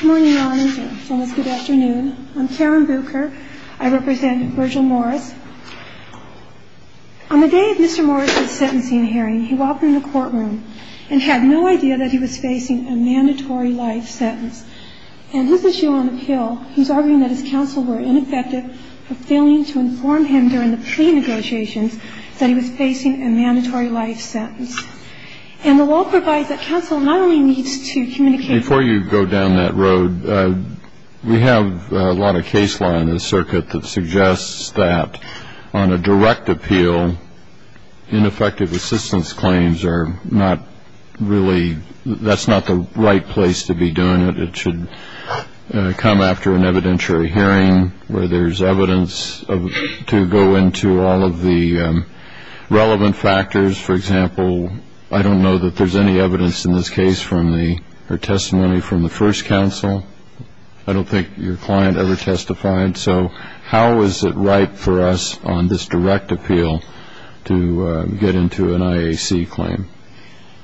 Good morning, Your Honor. It's almost good afternoon. I'm Karen Bucher. I represent Virgil Morris. On the day of Mr. Morris's sentencing hearing, he walked in the courtroom and had no idea that he was facing a mandatory life sentence. And this is Joan Hill, who's arguing that his counsel were ineffective for failing to inform him during the pre-negotiations that he was facing a mandatory life sentence. And the law provides that counsel not only needs to communicate Before you go down that road, we have a lot of case law in this circuit that suggests that on a direct appeal, ineffective assistance claims are not really, that's not the right place to be doing it. It should come after an evidentiary hearing where there's evidence to go into all of the relevant factors. For example, I don't know that there's any evidence in this case from the, or testimony from the first counsel. I don't think your client ever testified. So how is it right for us on this direct appeal to get into an IAC claim?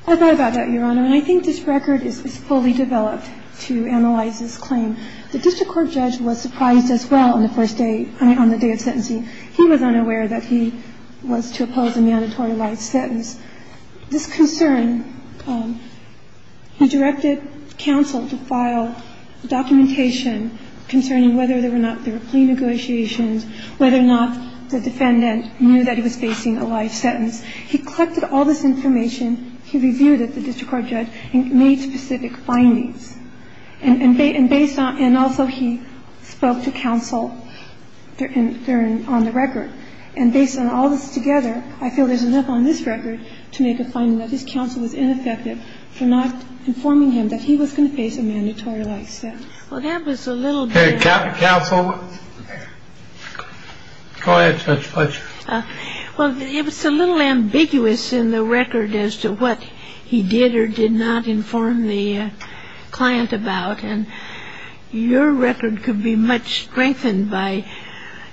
I thought about that, Your Honor. And I think this record is fully developed to analyze this claim. The district court judge was surprised as well on the first day, on the day of sentencing. He was unaware that he was to oppose a mandatory life sentence. This concern, he directed counsel to file documentation concerning whether or not there were pre-negotiations, whether or not the defendant knew that he was facing a life sentence. He collected all this information. He reviewed it, the district court judge, and made specific findings. And based on, and also he spoke to counsel on the record. And based on all this together, I feel there's enough on this record to make a finding that this counsel was ineffective for not informing him that he was going to face a mandatory life sentence. Well, that was a little bit. Counsel, go ahead, Judge Fletcher. Well, it was a little ambiguous in the record as to what he did or did not inform the client about. And your record could be much strengthened by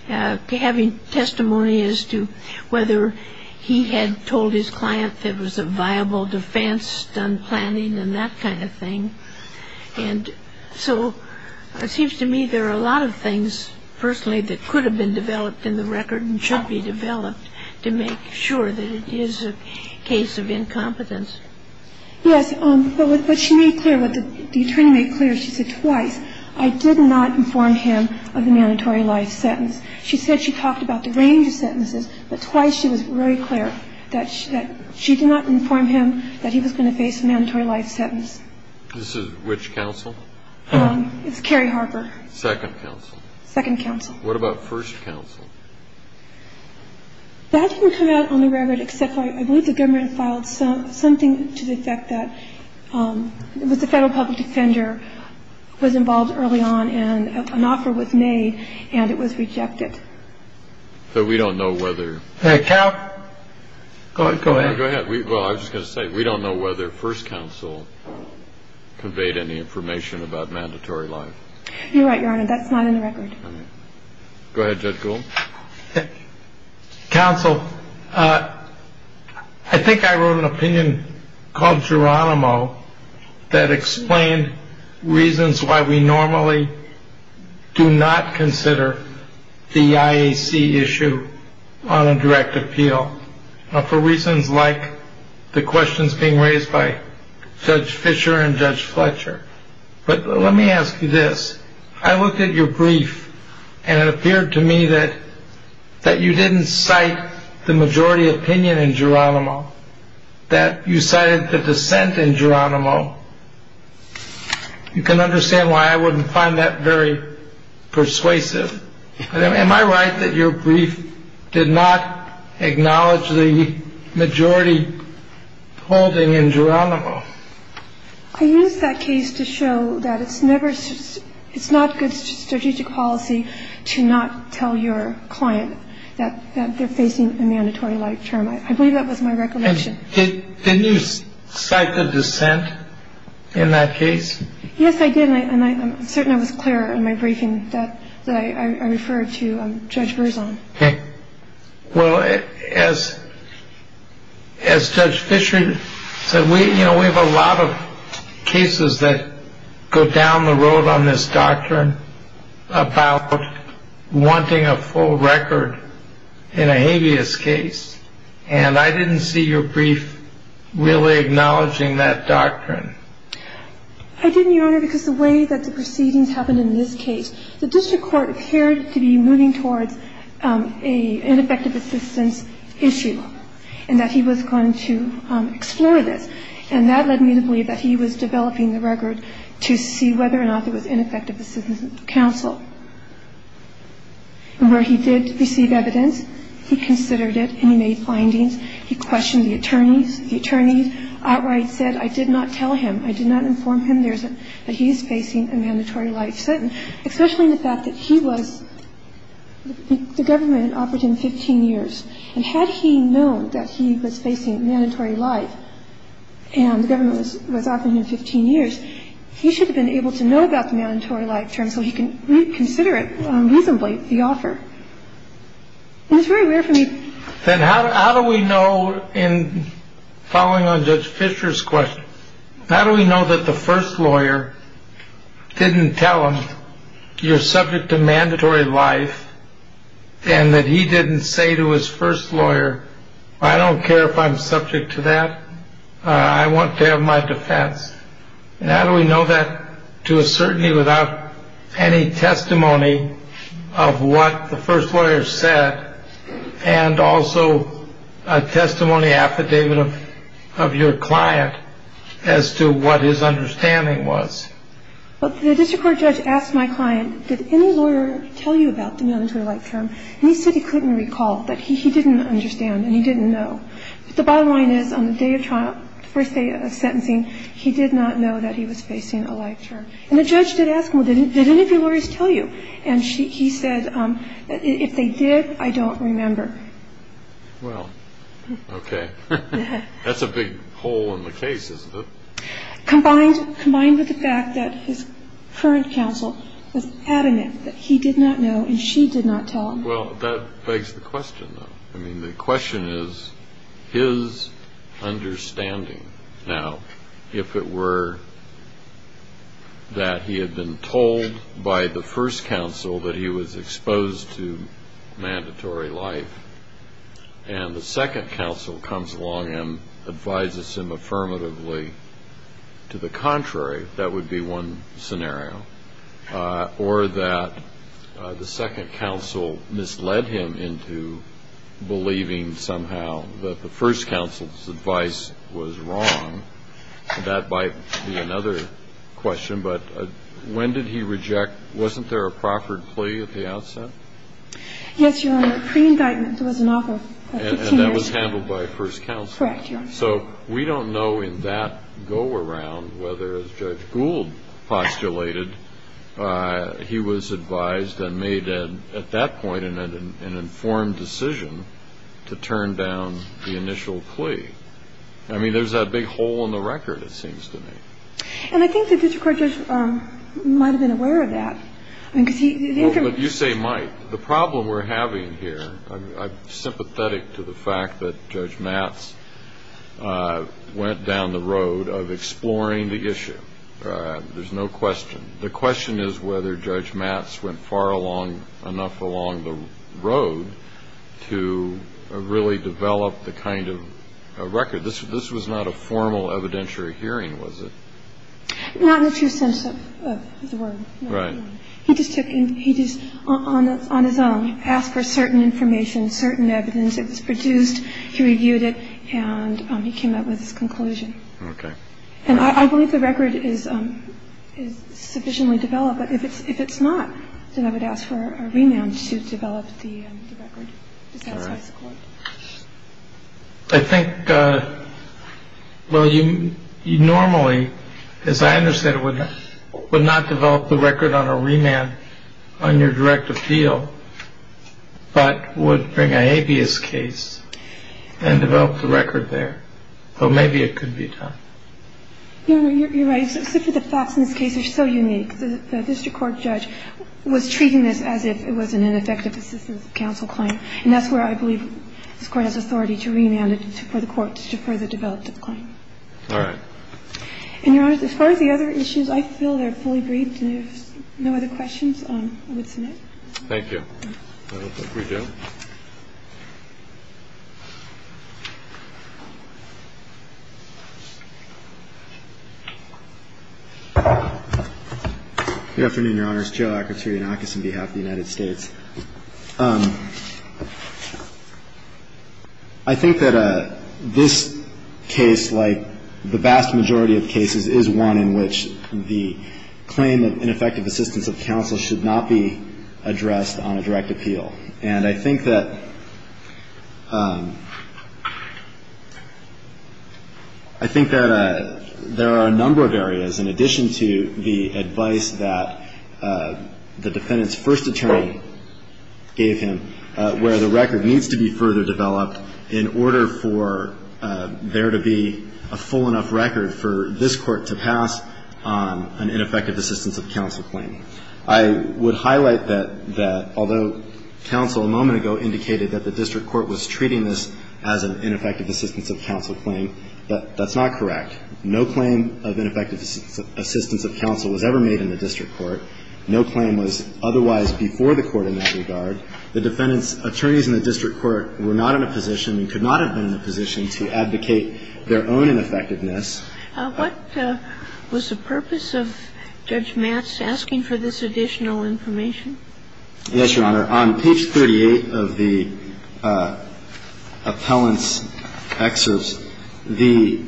having testimony as to whether he had told his client that it was a viable defense, done planning and that kind of thing. And so it seems to me there are a lot of things, personally, that could have been developed in the record and should be developed to make sure that it is a case of incompetence. Yes. But what she made clear, what the attorney made clear, she said twice, I did not inform him of the mandatory life sentence. She said she talked about the range of sentences, but twice she was very clear that she did not inform him that he was going to face a mandatory life sentence. This is which counsel? It's Kerry Harper. Second counsel. Second counsel. What about first counsel? That didn't come out on the record except for I believe the government filed something to the effect that it was the federal public defender was involved early on and an offer was made and it was rejected. So we don't know whether. Counsel, go ahead. Go ahead. Well, I was just going to say, we don't know whether first counsel conveyed any information about mandatory life. You're right, Your Honor. That's not in the record. Go ahead. Counsel. I think I wrote an opinion called Geronimo that explained reasons why we normally do not consider the IAC issue on a direct appeal for reasons like the questions being raised by Judge Fisher and Judge Fletcher. But let me ask you this. I looked at your brief and it appeared to me that that you didn't cite the majority opinion in Geronimo, that you cited the dissent in Geronimo. You can understand why I wouldn't find that very persuasive. Am I right that your brief did not acknowledge the majority holding in Geronimo? I used that case to show that it's never it's not good strategic policy to not tell your client that they're facing a mandatory life term. I believe that was my recollection. Did you cite the dissent in that case? Yes, I did. And I'm certain I was clear in my briefing that I referred to Judge Verzon. Well, as as Judge Fisher said, we you know, we have a lot of cases that go down the road on this doctrine about wanting a full record in a habeas case. And I didn't see your brief really acknowledging that doctrine. I didn't, Your Honor, because the way that the proceedings happened in this case, the district court appeared to be moving towards a ineffective assistance issue, and that he was going to explore this. And that led me to believe that he was developing the record to see whether or not there was ineffective assistance counsel. And where he did receive evidence, he considered it and he made findings. He questioned the attorneys. The attorneys outright said, I did not tell him, I did not inform him that he's facing a mandatory life sentence. Especially the fact that he was the government offered him 15 years. And had he known that he was facing mandatory life and the government was offering him 15 years, he should have been able to know about the mandatory life term so he can consider it reasonably the offer. It's very rare for me. Then how do we know in following on Judge Fisher's question? How do we know that the first lawyer didn't tell him you're subject to mandatory life? And that he didn't say to his first lawyer, I don't care if I'm subject to that. I want to have my defense. And how do we know that to a certainty without any testimony of what the first lawyer said? And also a testimony affidavit of your client as to what his understanding was. The district court judge asked my client, did any lawyer tell you about the mandatory life term? And he said he couldn't recall, that he didn't understand and he didn't know. The bottom line is, on the first day of sentencing, he did not know that he was facing a life term. And the judge did ask him, did any of your lawyers tell you? And he said, if they did, I don't remember. Well, okay. That's a big hole in the case, isn't it? Combined with the fact that his current counsel was adamant that he did not know and she did not tell him. Well, that begs the question, though. I mean, the question is his understanding. Now, if it were that he had been told by the first counsel that he was exposed to mandatory life and the second counsel comes along and advises him affirmatively to the contrary, that would be one scenario. Or that the second counsel misled him into believing somehow that the first counsel's advice was wrong. That might be another question. But when did he reject? Wasn't there a Crawford plea at the outset? Yes, Your Honor. Pre-indictment, there was an offer. And that was handled by first counsel. Correct, Your Honor. So we don't know in that go-around whether, as Judge Gould postulated, he was advised and made at that point in an informed decision to turn down the initial plea. I mean, there's that big hole in the record, it seems to me. And I think the district court judge might have been aware of that. But you say might. The problem we're having here, I'm sympathetic to the fact that Judge Matz went down the road of exploring the issue. There's no question. The question is whether Judge Matz went far enough along the road to really develop the kind of record. This was not a formal evidentiary hearing, was it? Not in the true sense of the word. Right. I mean, he didn't go far enough along the road to really develop the record. He just took and he just, on his own, asked for certain information, certain evidence. It was produced. He reviewed it and he came up with his conclusion. OK. And I believe the record is sufficiently developed. But if it's not, then I would ask for a remand to develop the record. All right. Is that why it's court? I think. Well, you normally, as I understand it, would not develop the record on a remand on your direct appeal, but would bring a habeas case and develop the record there. So maybe it could be done. You're right. The facts in this case are so unique. The district court judge was treating this as if it was an ineffective assistance of counsel claim. And that's where I believe this Court has authority to remand it for the court to further develop the claim. All right. And, Your Honor, as far as the other issues, I feel they're fully briefed. If there's no other questions, I would submit. Thank you. I'll open it for Joe. Good afternoon, Your Honors. Joe Akrotirianakis on behalf of the United States. I think that this case, like the vast majority of cases, is one in which the claim of ineffective assistance of counsel should not be addressed on a direct appeal. And I think that there are a number of areas, in addition to the advice that the defendant's first attorney gave him, where the record needs to be further developed in order for there to be a full enough record for this Court to pass an ineffective assistance of counsel claim. I would highlight that although counsel a moment ago indicated that the district court was treating this as an ineffective assistance of counsel claim, that's not correct. No claim of ineffective assistance of counsel was ever made in the district court. No claim was otherwise before the court in that regard. The defendant's attorneys in the district court were not in a position and could not have been in a position to advocate their own ineffectiveness. What was the purpose of Judge Matz asking for this additional information? Yes, Your Honor. On page 38 of the appellant's excerpts, the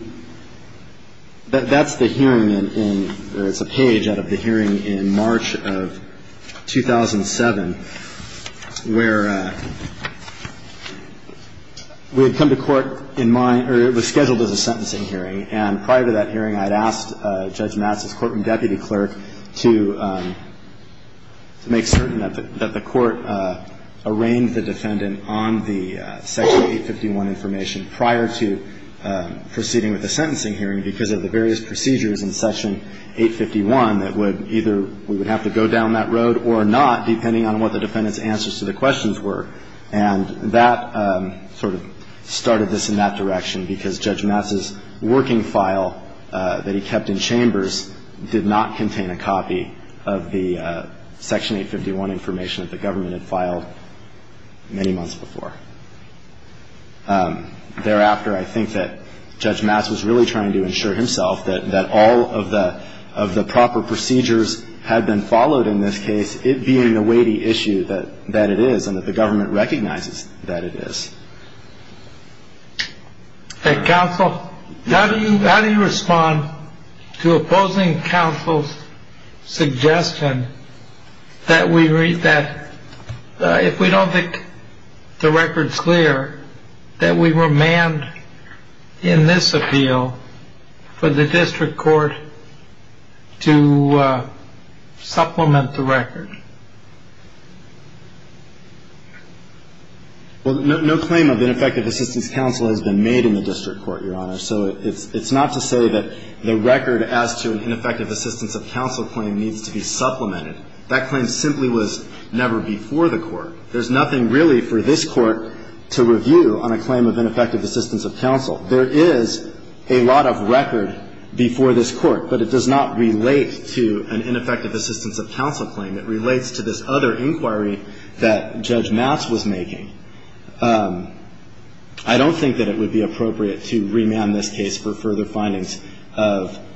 – that's the hearing in – or it's a page out of the hearing in March of 2007, where we had come to court in my – or it was scheduled as a sentencing hearing. And prior to that hearing, I had asked Judge Matz's court and deputy clerk to make certain that the court arraigned the defendant on the Section 851 information prior to proceeding with the sentencing hearing because of the various procedures in Section 851 that would either – we would have to go down that road or not, depending on what the defendant's answers to the questions were. And that sort of started this in that direction because Judge Matz's working file that he kept in chambers did not contain a copy of the Section 851 information that the government had filed many months before. Thereafter, I think that Judge Matz was really trying to ensure himself that all of the proper procedures had been followed in this case, it being the weighty issue that it is and that the government recognizes that it is. Counsel, how do you respond to opposing counsel's suggestion that we read that – if we don't think the record's clear, that we remand in this appeal for the district court to supplement the record? Well, no claim of ineffective assistance counsel has been made in the district court, Your Honor. So it's not to say that the record as to an ineffective assistance of counsel claim needs to be supplemented. That claim simply was never before the court. There's nothing really for this court to review on a claim of ineffective assistance of counsel. There is a lot of record before this court, but it does not relate to an ineffective assistance of counsel claim. It relates to this other inquiry that Judge Matz was making. I don't think that it would be appropriate to remand this case for further findings of –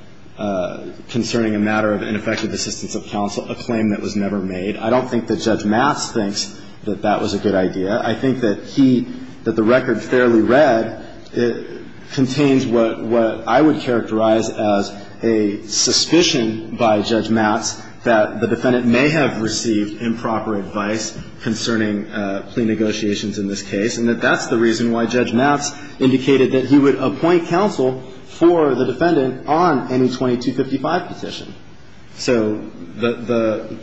concerning a matter of ineffective assistance of counsel, a claim that was never made. I don't think that Judge Matz thinks that that was a good idea. I think that he – that the record fairly read contains what I would characterize as a suspicion by Judge Matz that the defendant may have received improper advice concerning plea negotiations in this case, and that that's the reason why Judge Matz indicated that he would appoint counsel for the defendant on any 2255 petition. So the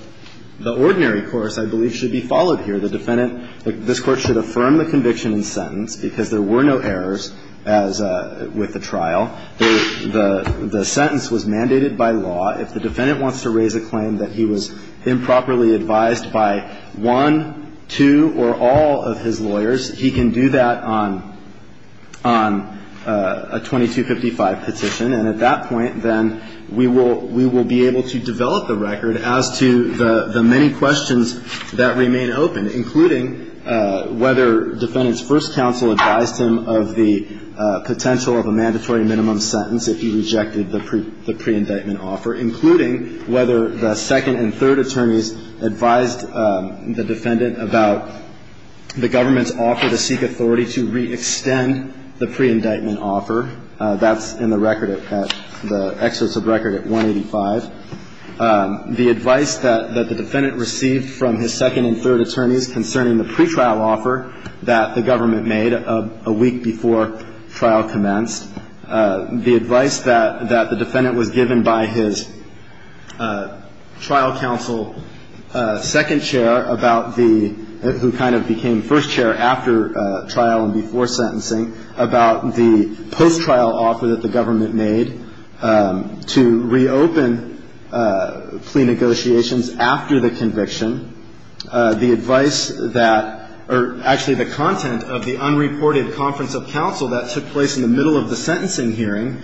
ordinary course, I believe, should be followed here. The defendant – this Court should affirm the conviction and sentence because there were no errors as with the trial. The sentence was mandated by law. If the defendant wants to raise a claim that he was improperly advised by one, two, or all of his lawyers, he can do that on – on a 2255 petition. And at that point, then, we will – we will be able to develop the record as to the many questions that remain open, including whether defendant's first counsel advised him of the potential of a mandatory minimum sentence if he rejected the – the pre-indictment offer, including whether the second and third attorneys advised the defendant about the government's offer to seek authority to re-extend the pre-indictment offer. That's in the record at – the excerpt of the record at 185. The advice that – that the defendant received from his second and third attorneys concerning the pretrial offer that the government made a week before trial commenced, the advice that – that the defendant was given by his trial counsel second chair about the – who kind of became first chair after trial and before sentencing about the post-trial offer that the government made to reopen plea negotiations after the conviction, the advice that – or actually the content of the unreported conference of counsel that took place in the middle of the sentencing hearing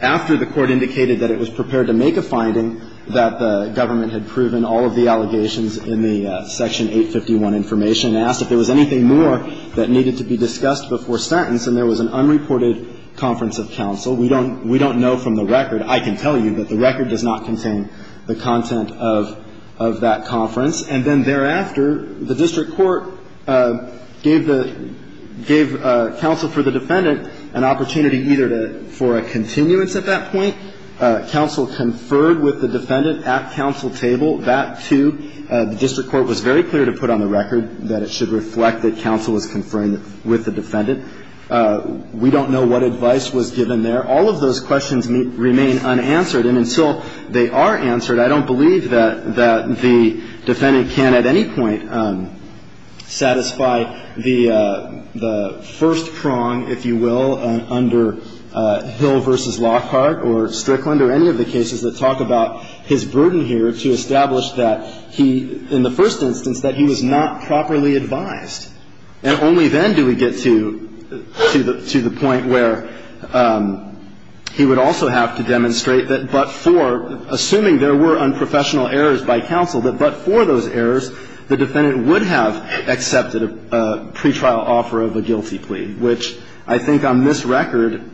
after the court indicated that it was prepared to make a finding that the government had proven all of the allegations in the Section 851 information and asked if there was anything more that needed to be discussed before sentence, and there was an unreported conference of counsel. We don't – we don't know from the record. I can tell you that the record does not contain the content of – of that conference. And then thereafter, the district court gave the – gave counsel for the defendant an opportunity either to – for a continuance at that point. Counsel conferred with the defendant at counsel table. That, too, the district court was very clear to put on the record that it should reflect that counsel was conferring with the defendant. We don't know what advice was given there. All of those questions remain unanswered. And until they are answered, I don't believe that – that the defendant can at any point satisfy the – the first prong, if you will, under Hill v. Lockhart or Strickland or any of the cases that talk about his burden here to establish that he – in the first instance, that he was not properly advised. And only then do we get to – to the – to the point where he would also have to demonstrate that but for – assuming there were unprofessional errors by counsel, that but for those errors, the defendant would have accepted a pretrial offer of a guilty plea, which I think on this record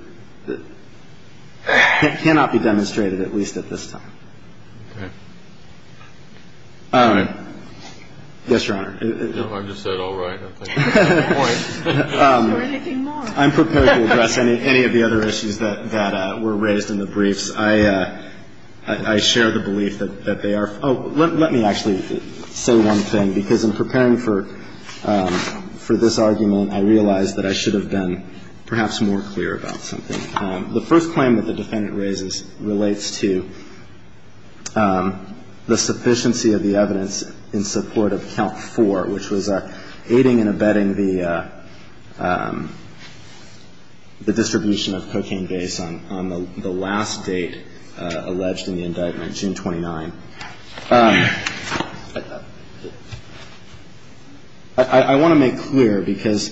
cannot be demonstrated, at least at this time. Okay. All right. Yes, Your Honor. No, I just said all right. I think that's the point. I'm prepared to address any – any of the other issues that – that were raised in the briefs. I – I share the belief that – that they are – oh, let me actually say one thing, because in preparing for – for this argument, I realized that I should have been perhaps more clear about something. The first claim that the defendant raises relates to the sufficiency of the evidence in support of Count 4, which was aiding and abetting the – the distribution of cocaine base on – on the last date alleged in the indictment, June 29. I want to make clear, because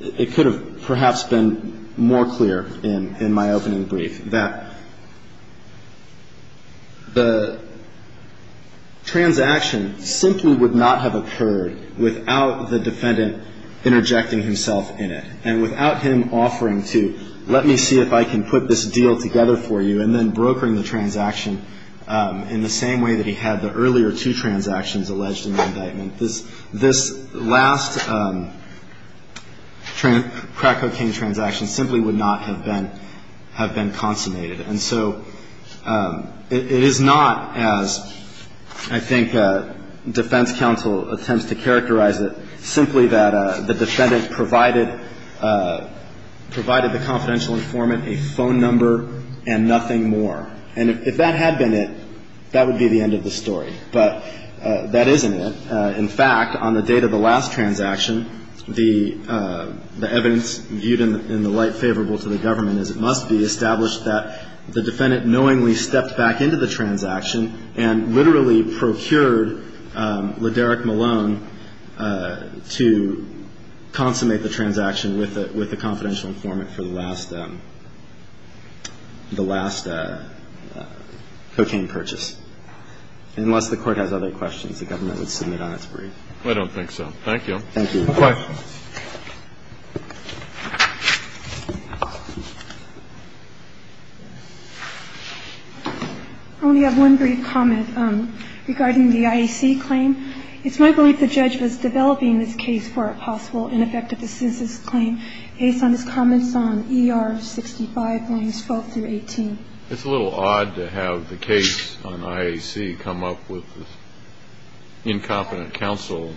it could have perhaps been more clear in – in my opening brief, that the transaction simply would not have occurred without the defendant interjecting himself in it and without him offering to let me see if I can put this deal together for you and then brokering the transaction in the same way that he had the earlier two transactions alleged in the indictment. This – this last crack cocaine transaction simply would not have been – have been consummated. And so it is not as I think defense counsel attempts to characterize it, simply that the defendant provided – provided the confidential informant a phone number and nothing more. And if that had been it, that would be the end of the story. But that isn't it. In fact, on the date of the last transaction, the – the evidence viewed in the light favorable to the government is it must be established that the defendant knowingly stepped back into the transaction and literally procured Lederick Malone to consummate the transaction with the – with the confidential informant for the last – the last cocaine purchase. Unless the Court has other questions, the government would submit on its brief. I don't think so. Thank you. Thank you. No questions. I only have one brief comment regarding the IAC claim. It's my belief the judge was developing this case for a possible ineffective assistance claim based on his comments on ER 65, lines 12 through 18. It's a little odd to have the case on IAC come up with this incompetent counsel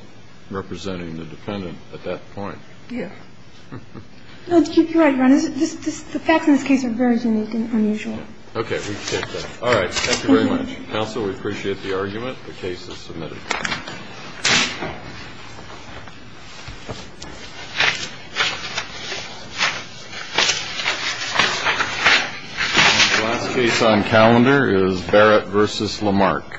representing the defendant at that point. Yeah. No, to keep you right, Your Honor, the facts in this case are very unique and unusual. Okay. All right. Thank you very much. Counsel, we appreciate the argument. The case is submitted. The last case on calendar is Barrett v. Lamarck.